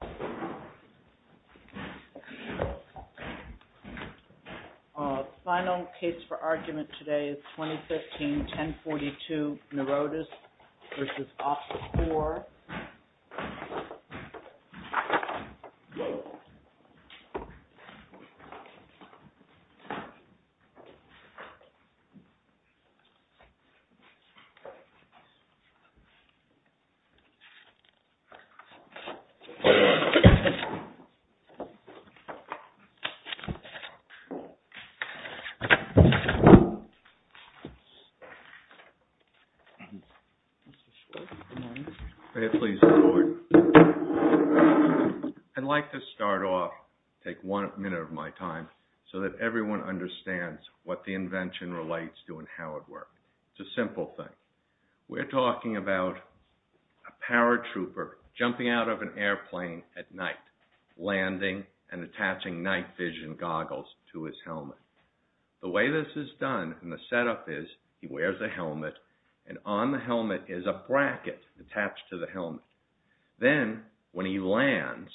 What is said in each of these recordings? The final case for argument today is 2015-1042, NOROTOS v. OPS-CORE. I'd like to start off, take one minute of my time, so that everyone understands what the invention relates to and how it works. It's a simple thing. We're talking about a paratrooper jumping out of an airplane at night, landing and attaching night vision goggles to his helmet. The way this is done, and the setup is, he wears a helmet, and on the helmet is a bracket attached to the helmet. Then, when he lands,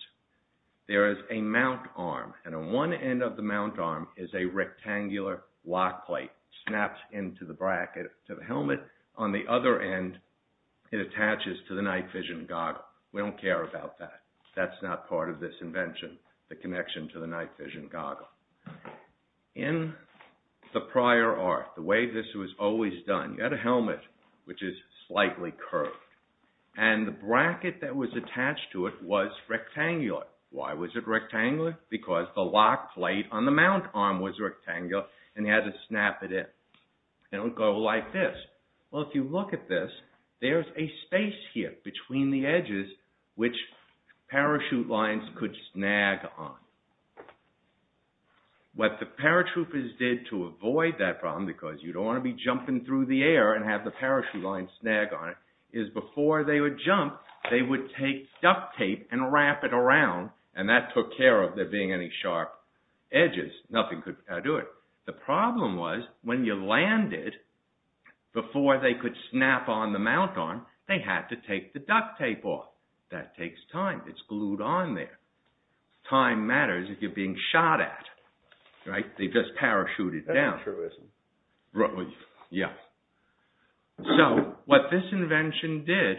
there is a mount arm, and on one end of the mount arm is a rectangular lock plate snapped into the bracket to the helmet. On the other end, it attaches to the night vision goggle. We don't care about that. That's not part of this invention, the connection to the night vision goggle. In the prior art, the way this was always done, you had a helmet, which is slightly curved, and the bracket that was attached to it was rectangular. Why was it rectangular? Because the lock plate on the mount arm was rectangular, and he had to snap it in. It would go like this. Well, if you look at this, there's a space here between the edges which parachute lines could snag on. What the paratroopers did to avoid that problem, because you don't want to be jumping through the air and have the parachute line snag on it, is before they would jump, they would take duct tape and wrap it around, and that took care of there being any sharp edges. Nothing could do it. The problem was, when you landed, before they could snap on the mount arm, they had to take the duct tape off. That takes time. It's glued on there. Time matters if you're being shot at, right? They just parachute it down. So, what this invention did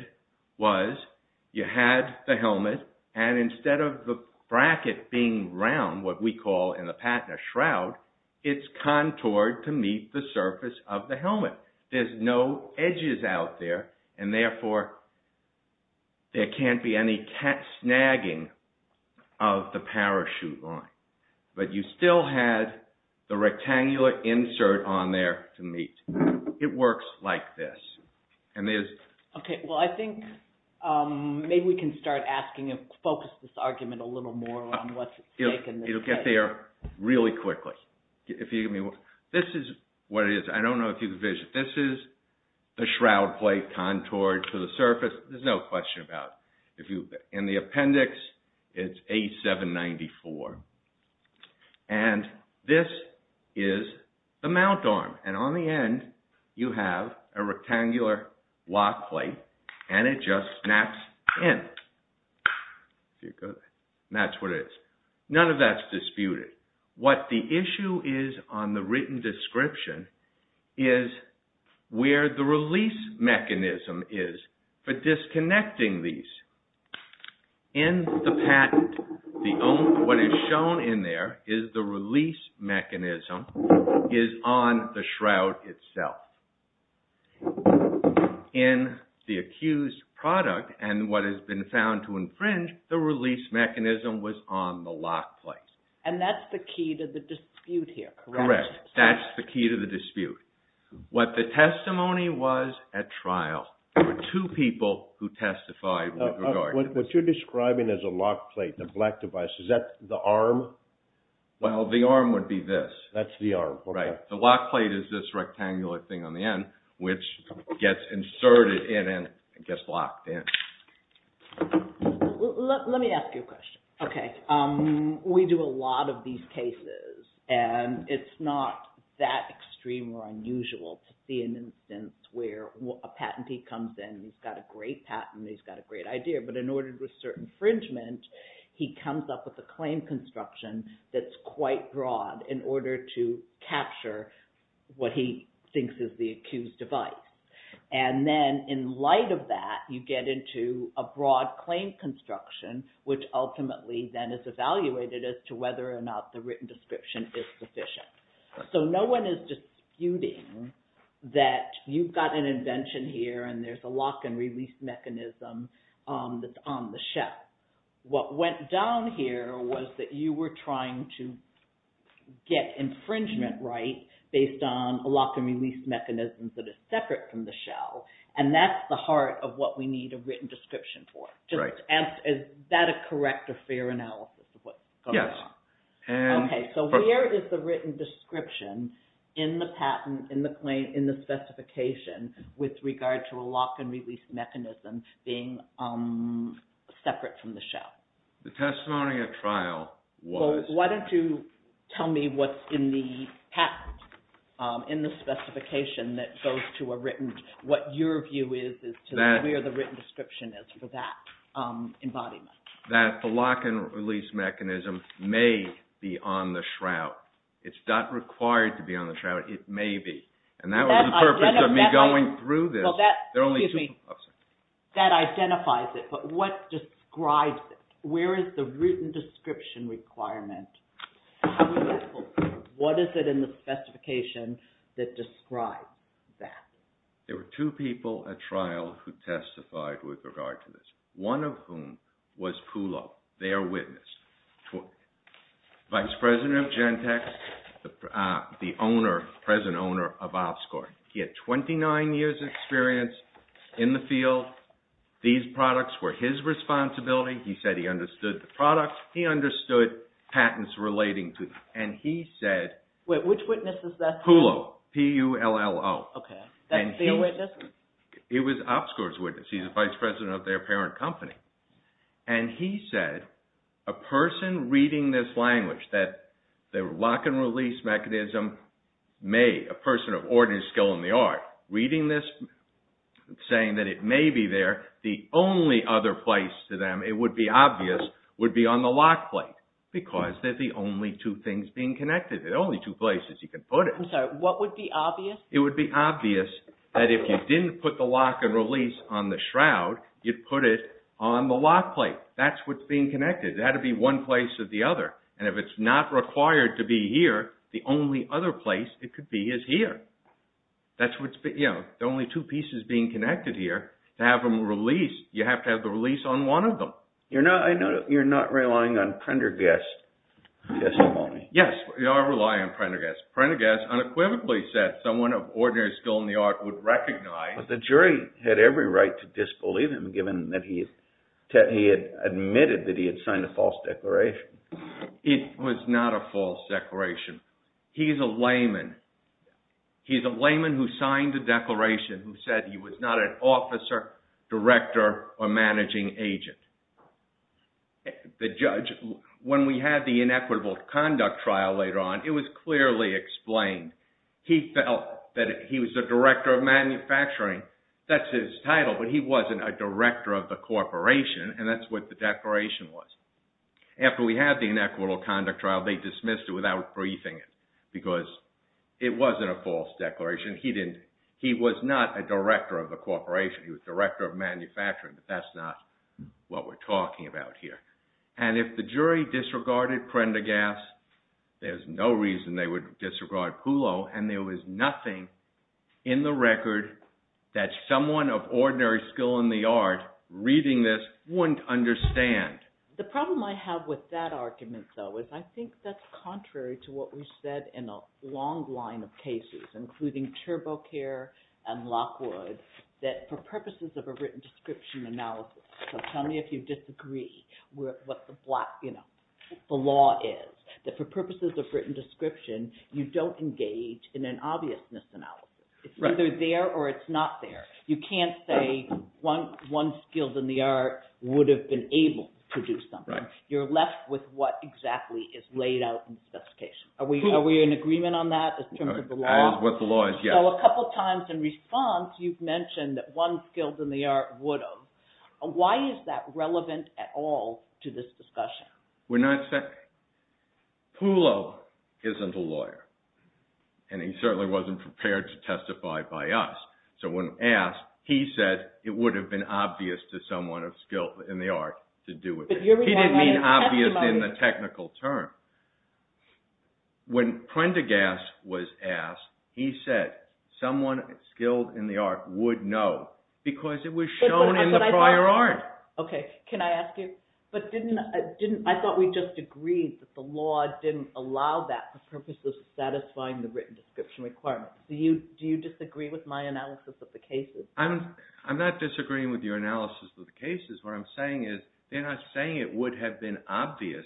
was, you had the helmet, and instead of the bracket being round, what we call in the Patna Shroud, it's contoured to meet the surface of the helmet. There's no edges out there, and therefore, there can't be any snagging of the parachute line. But you still had the rectangular insert on there to meet. It works like this. Okay, well, I think maybe we can start asking and focus this argument a little more on what's at stake in this case. It'll get there really quickly. This is what it is. I don't know if you can see it. This is the shroud plate contoured to the surface. There's no question about it. In the appendix, it's A794. And this is the mount arm. And on the end, you have a rectangular lock plate, and it just snaps in. And that's what it is. None of that's disputed. What the issue is on the written description is where the release mechanism is for disconnecting these. In the patent, what is shown in there is the release mechanism is on the shroud itself. In the accused product and what has been found to infringe, the release mechanism was on the lock plate. And that's the key to the dispute here, correct? Correct. That's the key to the dispute. What the testimony was at trial, there were two people who testified with regard to this. What you're describing as a lock plate, the black device, is that the arm? Well, the arm would be this. That's the arm. Right. The lock plate is this rectangular thing on the end, which gets inserted in and gets locked in. Let me ask you a question. Okay. We do a lot of these cases, and it's not that extreme or unusual to see an instance where a patentee comes in. He's got a great patent. He's got a great idea. But in order to assert infringement, he comes up with a claim construction that's quite broad in order to capture what he thinks is the accused device. And then in light of that, you get into a broad claim construction, which ultimately then is evaluated as to whether or not the written description is sufficient. So no one is disputing that you've got an invention here and there's a lock and release mechanism that's on the shelf. But what went down here was that you were trying to get infringement right based on a lock and release mechanism that is separate from the shell, and that's the heart of what we need a written description for. Is that a correct or fair analysis of what's going on? Yes. Okay. So where is the written description in the patent, in the specification, with regard to a lock and release mechanism being separate from the shell? The testimony at trial was… Why don't you tell me what's in the patent, in the specification that goes to a written, what your view is as to where the written description is for that embodiment? That the lock and release mechanism may be on the shroud. It's not required to be on the shroud. It may be. And that was the purpose of me going through this. That identifies it, but what describes it? Where is the written description requirement? What is it in the specification that describes that? There were two people at trial who testified with regard to this. One of whom was PULO, their witness. Vice President of Gentex, the present owner of Ofscore. He had 29 years' experience in the field. These products were his responsibility. He said he understood the products. He understood patents relating to them. And he said… Which witness is that? PULO. P-U-L-L-O. Okay. That's the witness? It was Ofscore's witness. He's the Vice President of their parent company. And he said, a person reading this language that the lock and release mechanism may, a person of ordinary skill in the art, reading this, saying that it may be there, the only other place to them, it would be obvious, would be on the lock plate. Because they're the only two things being connected. They're the only two places you can put it. I'm sorry. What would be obvious? It would be obvious that if you didn't put the lock and release on the shroud, you'd put it on the lock plate. That's what's being connected. It had to be one place or the other. And if it's not required to be here, the only other place it could be is here. That's what's, you know, the only two pieces being connected here. To have them released, you have to have the release on one of them. You're not relying on Prendergast's testimony. Yes, I rely on Prendergast. Prendergast unequivocally said someone of ordinary skill in the art would recognize. But the jury had every right to disbelieve him, given that he had admitted that he had signed a false declaration. It was not a false declaration. He's a layman. He's a layman who signed a declaration who said he was not an officer, director, or managing agent. The judge, when we had the inequitable conduct trial later on, it was clearly explained. He felt that he was the director of manufacturing. That's his title, but he wasn't a director of the corporation, and that's what the declaration was. After we had the inequitable conduct trial, they dismissed it without briefing it because it wasn't a false declaration. He didn't – he was not a director of the corporation. He was director of manufacturing, but that's not what we're talking about here. And if the jury disregarded Prendergast, there's no reason they would disregard Pulo, and there was nothing in the record that someone of ordinary skill in the art reading this wouldn't understand. The problem I have with that argument, though, is I think that's contrary to what we've said in a long line of cases, including TurboCare and Lockwood, that for purposes of a written description analysis – so tell me if you disagree with what the law is – that for purposes of written description, you don't engage in an obviousness analysis. It's either there or it's not there. You can't say one skilled in the art would have been able to do something. You're left with what exactly is laid out in the specification. Are we in agreement on that in terms of the law? That is what the law is, yes. So a couple times in response, you've mentioned that one skilled in the art would have. Why is that relevant at all to this discussion? Pulo isn't a lawyer, and he certainly wasn't prepared to testify by us. So when asked, he said it would have been obvious to someone of skill in the art to do it. He didn't mean obvious in the technical term. When Prendergast was asked, he said someone skilled in the art would know because it was shown in the prior art. Okay. Can I ask you – I thought we just agreed that the law didn't allow that for purposes of satisfying the written description requirement. Do you disagree with my analysis of the cases? I'm not disagreeing with your analysis of the cases. What I'm saying is they're not saying it would have been obvious.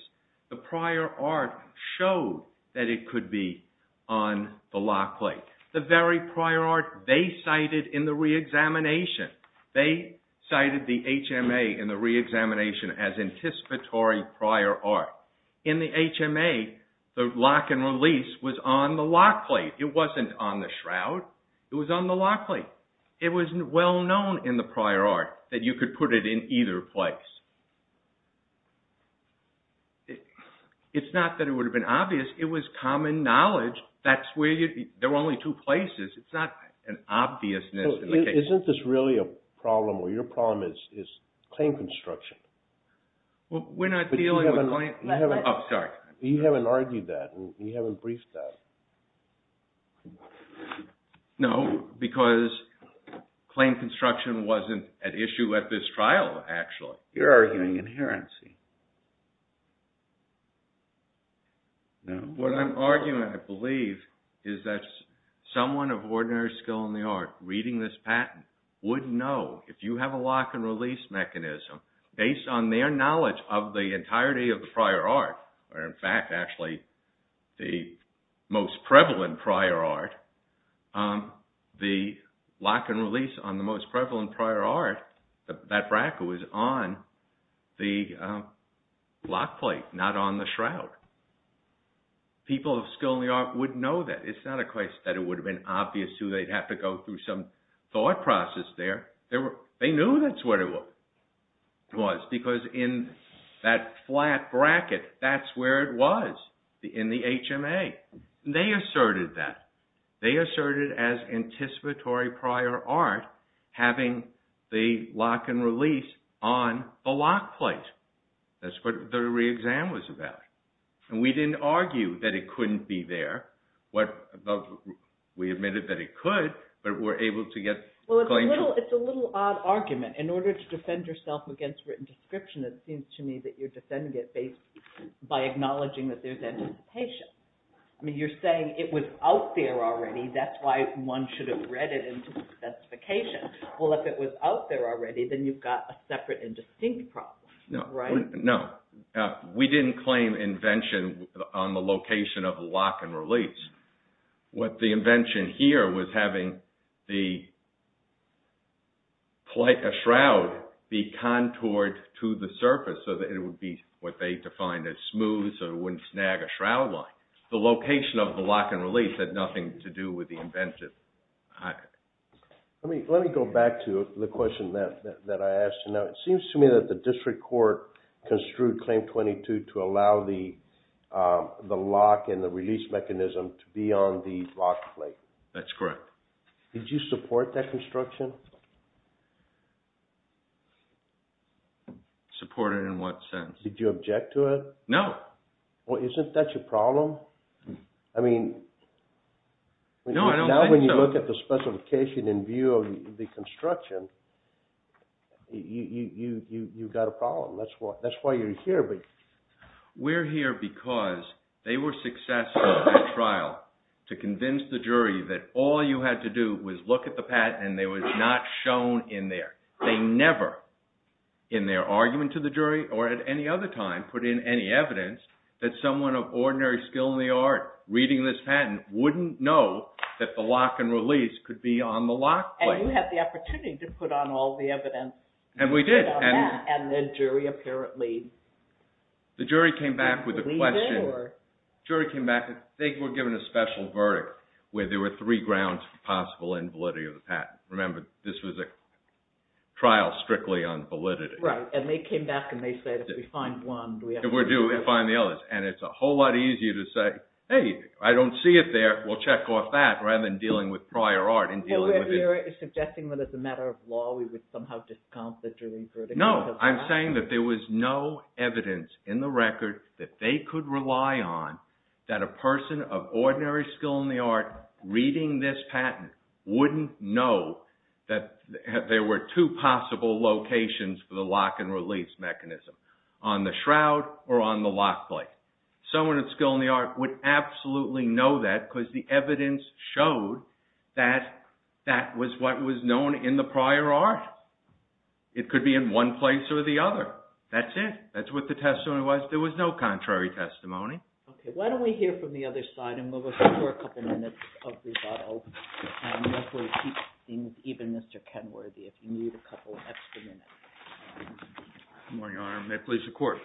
The prior art showed that it could be on the lock plate. The very prior art they cited in the reexamination, they cited the HMA in the reexamination as anticipatory prior art. In the HMA, the lock and release was on the lock plate. It wasn't on the shroud. It was on the lock plate. It was well known in the prior art that you could put it in either place. It's not that it would have been obvious. It was common knowledge. There were only two places. It's not an obviousness in the case. Isn't this really a problem, or your problem is claim construction? We're not dealing with claim – oh, sorry. You haven't argued that. You haven't briefed that. No, because claim construction wasn't an issue at this trial, actually. You're arguing inherency. What I'm arguing, I believe, is that someone of ordinary skill in the art reading this patent would know, if you have a lock and release mechanism, based on their knowledge of the entirety of the prior art, or in fact, actually, the most prevalent prior art, the lock and release on the most prevalent prior art, that BRAC was on the lock plate. Not on the shroud. People of skill in the art would know that. It's not a case that it would have been obvious to. They'd have to go through some thought process there. They knew that's where it was, because in that flat bracket, that's where it was in the HMA. They asserted that. They asserted as anticipatory prior art having the lock and release on the lock plate. That's what the re-exam was about. And we didn't argue that it couldn't be there. We admitted that it could, but we're able to get – Well, it's a little odd argument. In order to defend yourself against written description, it seems to me that you're defending it by acknowledging that there's anticipation. I mean, you're saying it was out there already. That's why one should have read it into the specification. Well, if it was out there already, then you've got a separate and distinct problem, right? No. We didn't claim invention on the location of lock and release. What the invention here was having the shroud be contoured to the surface so that it would be what they defined as smooth so it wouldn't snag a shroud line. The location of the lock and release had nothing to do with the invention. Let me go back to the question that I asked. Now, it seems to me that the district court construed Claim 22 to allow the lock and the release mechanism to be on the lock plate. That's correct. Did you support that construction? Support it in what sense? Did you object to it? No. Well, isn't that your problem? I mean – No, I don't think so. I think when you look at the specification in view of the construction, you've got a problem. That's why you're here. We're here because they were successful in the trial to convince the jury that all you had to do was look at the patent and it was not shown in there. They never in their argument to the jury or at any other time put in any evidence that someone of ordinary skill in the art reading this patent wouldn't know that the lock and release could be on the lock plate. And you had the opportunity to put on all the evidence. And we did. And the jury apparently – The jury came back with a question. The jury came back and they were given a special verdict where there were three grounds for possible invalidity of the patent. Remember, this was a trial strictly on validity. Right. And they came back and they said if we find one – If we do, we'll find the others. And it's a whole lot easier to say, hey, I don't see it there. We'll check off that rather than dealing with prior art and dealing with – You're suggesting that as a matter of law we would somehow discount the jury's verdict. No, I'm saying that there was no evidence in the record that they could rely on that a person of ordinary skill in the art reading this patent wouldn't know that there were two possible locations for the lock and release mechanism, on the shroud or on the lock plate. Someone with skill in the art would absolutely know that because the evidence showed that that was what was known in the prior art. It could be in one place or the other. That's it. That's what the testimony was. There was no contrary testimony. Okay. Why don't we hear from the other side and move us for a couple minutes of rebuttal and hopefully keep things even, Mr. Kenworthy, if you need a couple extra minutes. Good morning, Your Honor. May it please the Court.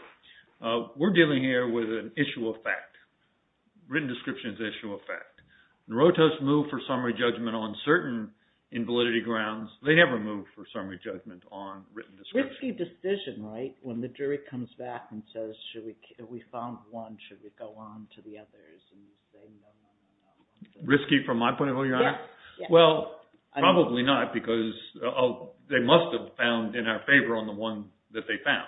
We're dealing here with an issue of fact. Written description is an issue of fact. Rotos moved for summary judgment on certain invalidity grounds. They never moved for summary judgment on written description. Risky decision, right, when the jury comes back and says, we found one. Should we go on to the others? Risky from my point of view, Your Honor? Yes. Well, probably not because they must have found in our favor on the one that they found.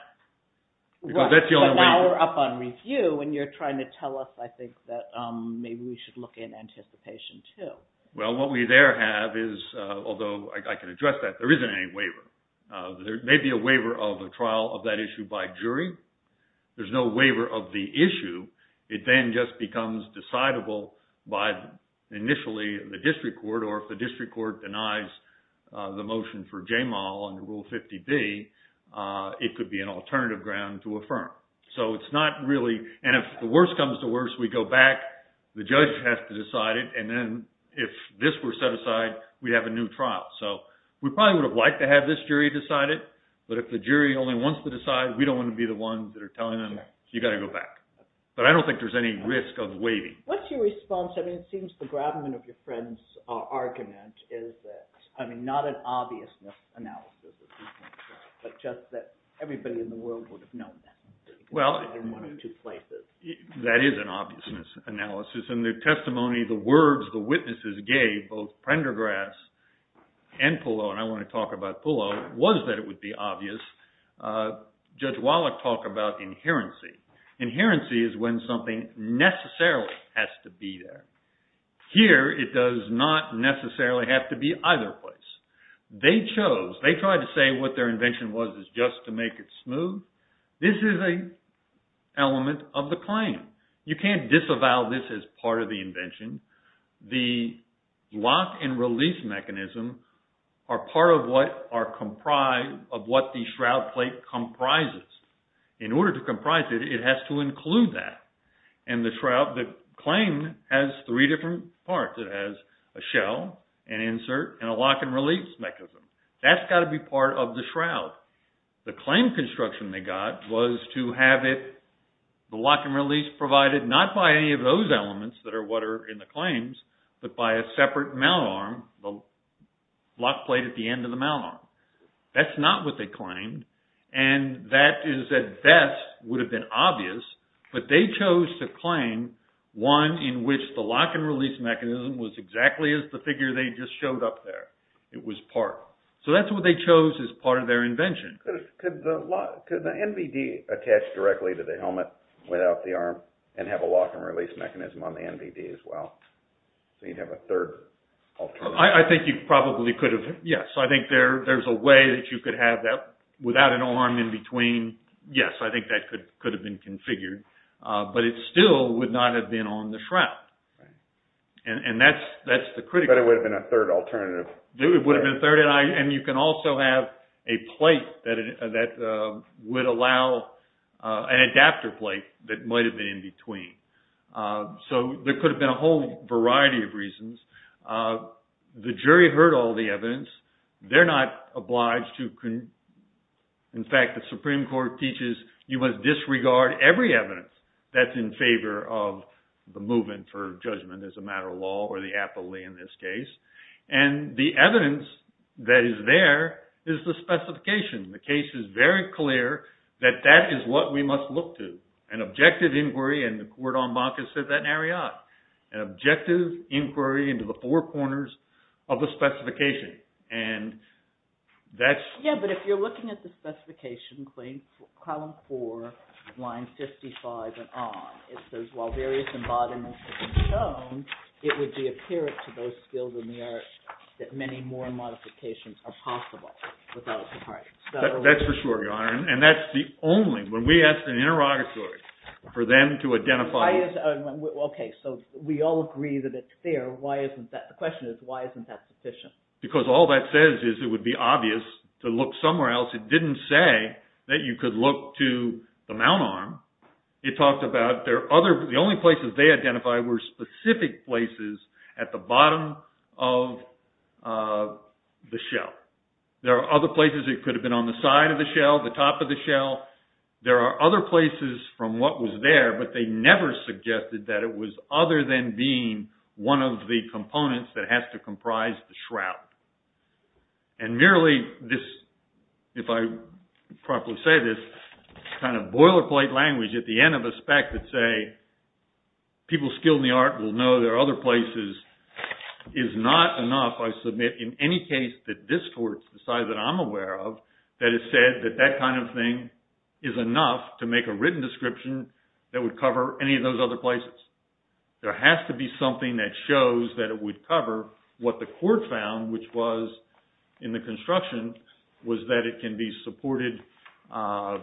But now we're up on review and you're trying to tell us, I think, that maybe we should look in anticipation, too. Well, what we there have is, although I can address that, there isn't any waiver. There may be a waiver of a trial of that issue by jury. There's no waiver of the issue. It then just becomes decidable by, initially, the district court, or if the district court denies the motion for JMAL under Rule 50B, it could be an alternative ground to affirm. So it's not really – and if the worst comes to worst, we go back, the judge has to decide it, and then if this were set aside, we'd have a new trial. So we probably would have liked to have this jury decide it. But if the jury only wants to decide, we don't want to be the ones that are telling them, you've got to go back. But I don't think there's any risk of waiving. What's your response? I mean, it seems the gravamen of your friend's argument is that – I mean, not an obviousness analysis, but just that everybody in the world would have known that. Well, that is an obviousness analysis. In the testimony, the words the witnesses gave, both Prendergrass and Pullo, and I want to talk about Pullo, was that it would be obvious. Judge Wallach talked about inherency. Inherency is when something necessarily has to be there. Here, it does not necessarily have to be either place. They chose – they tried to say what their invention was is just to make it smooth. This is an element of the claim. You can't disavow this as part of the invention. The lock and release mechanism are part of what are comprised of what the shroud plate comprises. In order to comprise it, it has to include that. And the shroud – the claim has three different parts. It has a shell, an insert, and a lock and release mechanism. That's got to be part of the shroud. The claim construction they got was to have it – the lock and release provided not by any of those elements that are what are in the claims, but by a separate mount arm, the lock plate at the end of the mount arm. That's not what they claimed, and that is at best would have been obvious, but they chose to claim one in which the lock and release mechanism was exactly as the figure they just showed up there. It was part. So that's what they chose as part of their invention. Could the NVD attach directly to the helmet without the arm and have a lock and release mechanism on the NVD as well? So you'd have a third alternative. I think you probably could have, yes. I think there's a way that you could have that without an arm in between. Yes, I think that could have been configured, but it still would not have been on the shroud. And that's the critical – But it would have been a third alternative. It would have been a third. And you can also have a plate that would allow – an adapter plate that might have been in between. So there could have been a whole variety of reasons. The jury heard all the evidence. They're not obliged to – in fact, the Supreme Court teaches you must disregard every evidence that's in favor of the movement for judgment as a matter of law or the appellee in this case. And the evidence that is there is the specification. The case is very clear that that is what we must look to, an objective inquiry. And the court en banc has said that in Ariat, an objective inquiry into the four corners of the specification. And that's – Yes, but if you're looking at the specification, column four, line 55 and on, it says, while various embodiments have been shown, it would be apparent to those skilled in the art that many more modifications are possible without the parties. That's for sure, Your Honor. And that's the only – when we asked an interrogatory for them to identify – Why is – okay, so we all agree that it's there. Why isn't that – the question is why isn't that sufficient? Because all that says is it would be obvious to look somewhere else. It didn't say that you could look to the mount arm. It talked about there are other – the only places they identified were specific places at the bottom of the shell. There are other places it could have been on the side of the shell, the top of the shell. There are other places from what was there, but they never suggested that it was other than being one of the components that has to comprise the shroud. And merely this, if I properly say this, kind of boilerplate language at the end of a spec that say, people skilled in the art will know there are other places is not enough, I submit, in any case that this court, the side that I'm aware of, that it said that that kind of thing is enough to make a written description that would cover any of those other places. There has to be something that shows that it would cover what the court found, which was in the construction, was that it can be supported by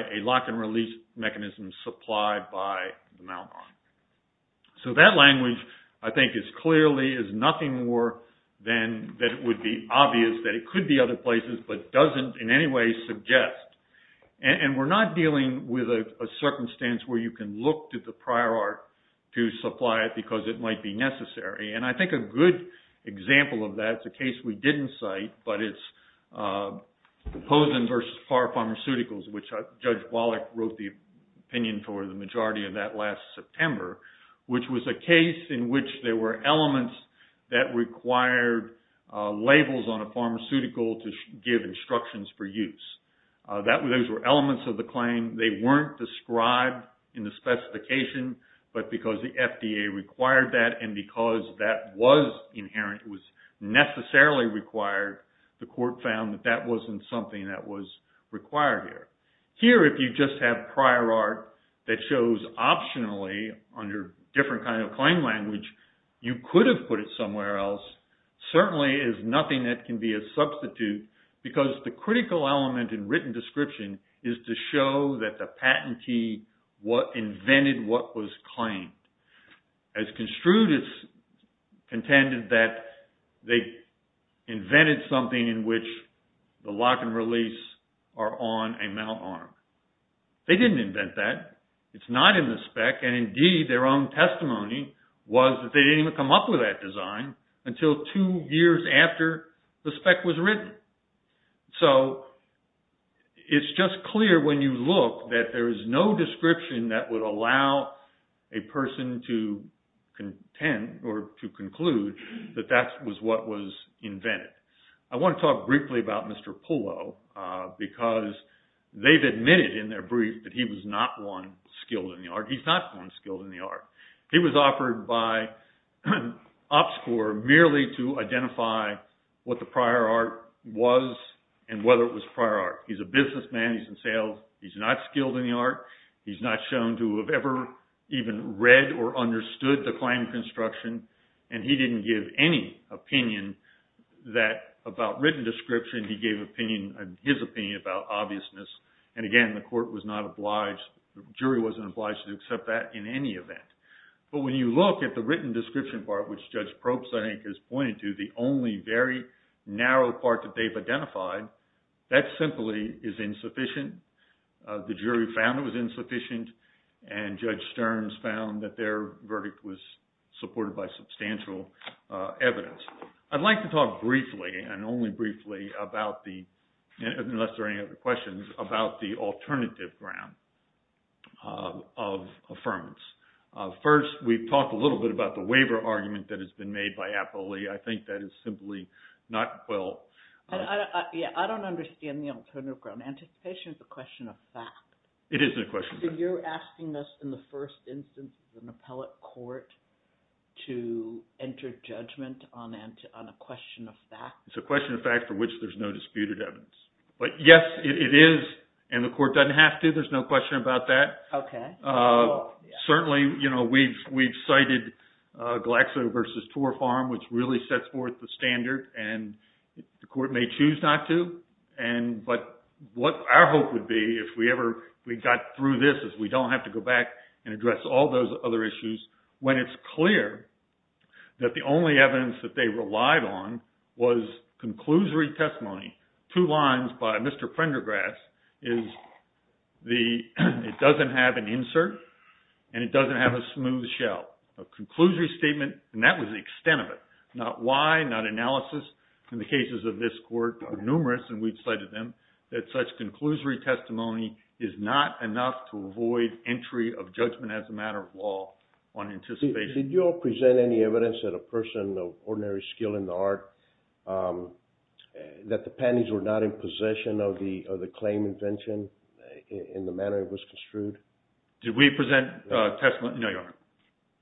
a lock and release mechanism supplied by the mount arm. So that language, I think, is clearly – is nothing more than that it would be obvious that it could be other places but doesn't in any way suggest. And we're not dealing with a circumstance where you can look to the prior art to supply it because it might be necessary. And I think a good example of that, it's a case we didn't cite, but it's Posen versus Parr Pharmaceuticals, which Judge Wallach wrote the opinion for the majority of that last September, which was a case in which there were elements that required labels on a pharmaceutical to give instructions for use. Those were elements of the claim. They weren't described in the specification, but because the FDA required that and because that was inherent, it was necessarily required, the court found that that wasn't something that was required here. Here, if you just have prior art that shows optionally under different kind of claim language, you could have put it somewhere else. Certainly is nothing that can be a substitute because the critical element in written description is to show that the patentee invented what was claimed. As construed, it's contended that they invented something in which the lock and release are on a mount arm. They didn't invent that. It's not in the spec, and indeed their own testimony was that they didn't even come up with that design until two years after the spec was written. So it's just clear when you look that there is no description that would allow a person to contend or to conclude that that was what was invented. I want to talk briefly about Mr. Pullo because they've admitted in their brief that he was not one skilled in the art. He's not one skilled in the art. He was offered by Ops Corps merely to identify what the prior art was and whether it was prior art. He's a businessman. He's in sales. He's not skilled in the art. He's not shown to have ever even read or understood the claim construction, and he didn't give any opinion about written description. He gave his opinion about obviousness, and again, the jury wasn't obliged to accept that in any event. But when you look at the written description part, which Judge Probst, I think, has pointed to, the only very narrow part that they've identified, that simply is insufficient. The jury found it was insufficient, and Judge Stearns found that their verdict was supported by substantial evidence. I'd like to talk briefly and only briefly about the, unless there are any other questions, about the alternative ground of affirmance. First, we've talked a little bit about the waiver argument that has been made by Apolli. I think that is simply not well… I don't understand the alternative ground. Anticipation is a question of fact. It is a question of fact. So you're asking us, in the first instance, as an appellate court, to enter judgment on a question of fact? It's a question of fact for which there's no disputed evidence. But yes, it is, and the court doesn't have to. There's no question about that. Okay. Certainly, you know, we've cited Glaxo v. Tor Farm, which really sets forth the standard, and the court may choose not to. But what our hope would be, if we ever got through this, is we don't have to go back and address all those other issues, when it's clear that the only evidence that they relied on was conclusory testimony. Two lines by Mr. Prendergrass is, it doesn't have an insert, and it doesn't have a smooth shell. A conclusory statement, and that was the extent of it. Not why, not analysis. In the cases of this court, there are numerous, and we've cited them, that such conclusory testimony is not enough to avoid entry of judgment as a matter of law on anticipation. Did you all present any evidence that a person of ordinary skill in the art, that the panties were not in possession of the claim invention in the manner it was construed? Did we present testimony? No, Your Honor.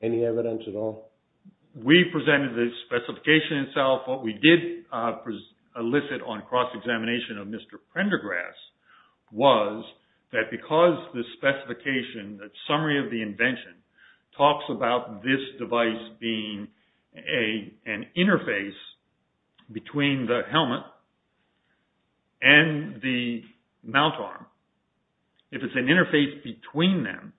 Any evidence at all? We presented the specification itself. What we did elicit on cross-examination of Mr. Prendergrass was that because the specification, the summary of the invention, talks about this device being an interface between the helmet and the mount arm. If it's an interface between them,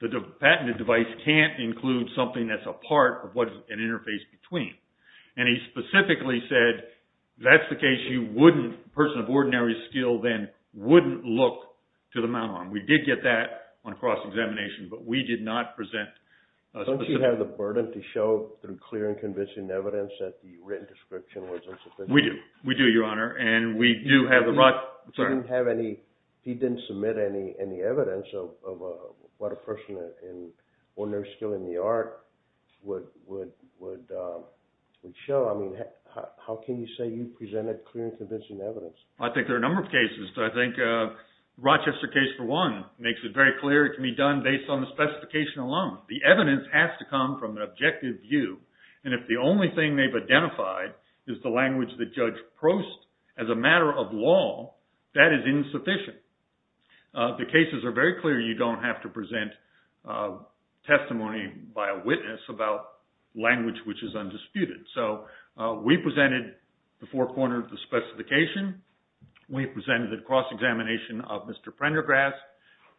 the patented device can't include something that's a part of what's an interface between. And he specifically said, that's the case you wouldn't, a person of ordinary skill then, wouldn't look to the mount arm. We did get that on cross-examination, but we did not present. Don't you have the burden to show through clear and convincing evidence that the written description was insufficient? We do. We do, Your Honor. He didn't submit any evidence of what a person of ordinary skill in the art would show. How can you say you presented clear and convincing evidence? I think there are a number of cases. I think the Rochester case, for one, makes it very clear it can be done based on the specification alone. The evidence has to come from an objective view. And if the only thing they've identified is the language that Judge Prost, as a matter of law, that is insufficient. The cases are very clear. You don't have to present testimony by a witness about language which is undisputed. So we presented the forecorner of the specification. We presented a cross-examination of Mr. Prendergrast,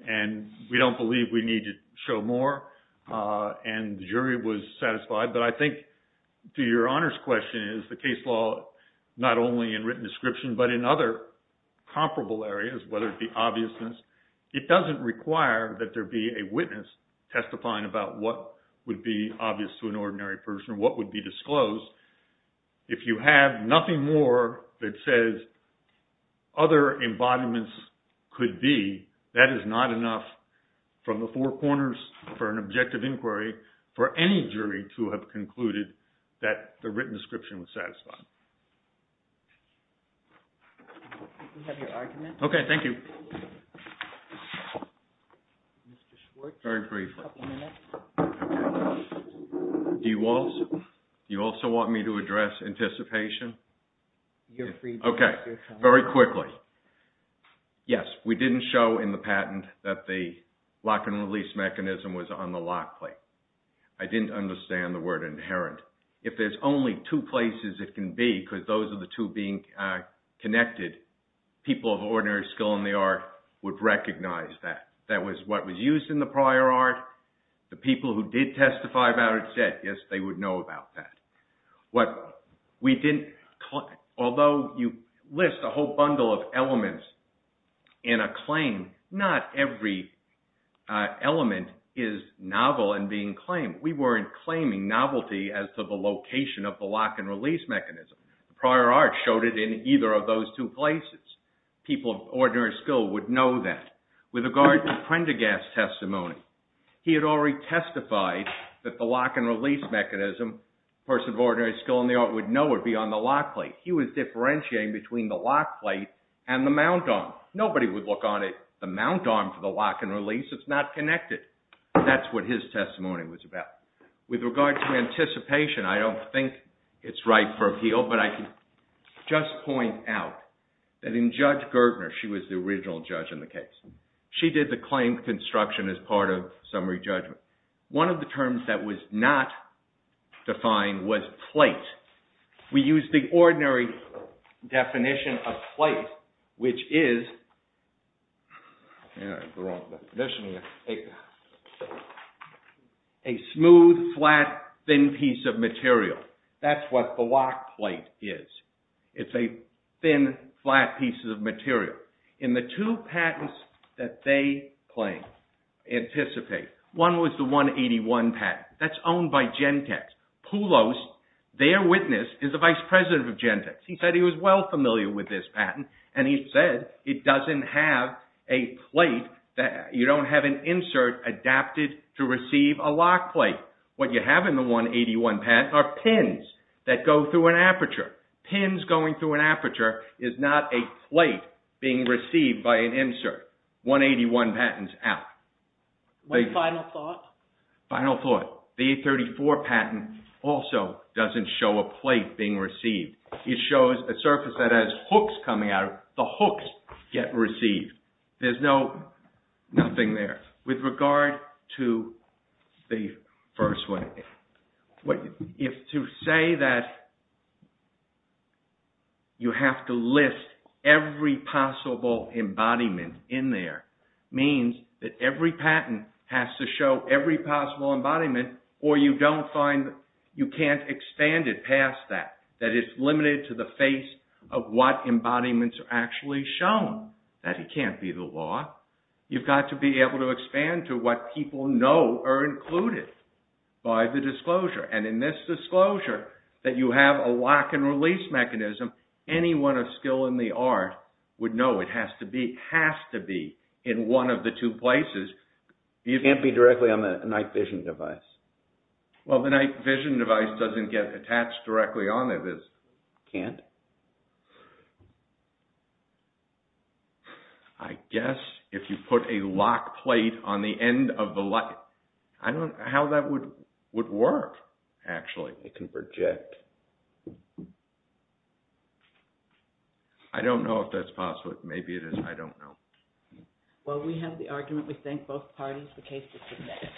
and we don't believe we need to show more. And the jury was satisfied. But I think, to Your Honor's question, the case law, not only in written description but in other comparable areas, whether it be obviousness, it doesn't require that there be a witness testifying about what would be obvious to an ordinary person, what would be disclosed. If you have nothing more that says other embodiments could be, that is not enough from the forecorners for an objective inquiry for any jury to have concluded that the written description was satisfied. Do you have your argument? Okay, thank you. Mr. Schwartz, a couple minutes. Very briefly. D. Walsh, do you also want me to address anticipation? You're free, Your Honor. Okay, very quickly. Yes, we didn't show in the patent that the lock and release mechanism was on the lock plate. I didn't understand the word inherent. If there's only two places it can be, because those are the two being connected, people of ordinary skill in the art would recognize that. That was what was used in the prior art. The people who did testify about it said, yes, they would know about that. Although you list a whole bundle of elements in a claim, not every element is novel in being claimed. We weren't claiming novelty as to the location of the lock and release mechanism. Prior art showed it in either of those two places. People of ordinary skill would know that. With regard to Prendergast's testimony, he had already testified that the lock and release mechanism, a person of ordinary skill in the art would know it would be on the lock plate. He was differentiating between the lock plate and the mount arm. Nobody would look on the mount arm for the lock and release. It's not connected. That's what his testimony was about. With regard to anticipation, I don't think it's right for appeal, but I can just point out that in Judge Gertner, she was the original judge in the case. She did the claim construction as part of summary judgment. One of the terms that was not defined was plate. We use the ordinary definition of plate, which is a smooth, flat, thin piece of material. That's what the lock plate is. In the two patents that they claim, anticipate, one was the 181 patent. That's owned by Gentex. Poulos, their witness, is the vice president of Gentex. He said he was well familiar with this patent, and he said it doesn't have a plate. You don't have an insert adapted to receive a lock plate. What you have in the 181 patent are pins that go through an aperture. Pins going through an aperture is not a plate being received by an insert. 181 patent is out. One final thought? Final thought. The 834 patent also doesn't show a plate being received. It shows a surface that has hooks coming out of it. The hooks get received. There's nothing there. With regard to the first one, to say that you have to list every possible embodiment in there means that every patent has to show every possible embodiment, or you can't expand it past that. It's limited to the face of what embodiments are actually shown. That can't be the law. You've got to be able to expand to what people know are included by the disclosure. And in this disclosure, that you have a lock and release mechanism, anyone of skill in the art would know it has to be in one of the two places. It can't be directly on the night vision device. Well, the night vision device doesn't get attached directly on it. It can't? I guess if you put a lock plate on the end of the lock, I don't know how that would work, actually. It can project. I don't know if that's possible. Maybe it is. I don't know. Well, we have the argument. We thank both parties. The case is submitted.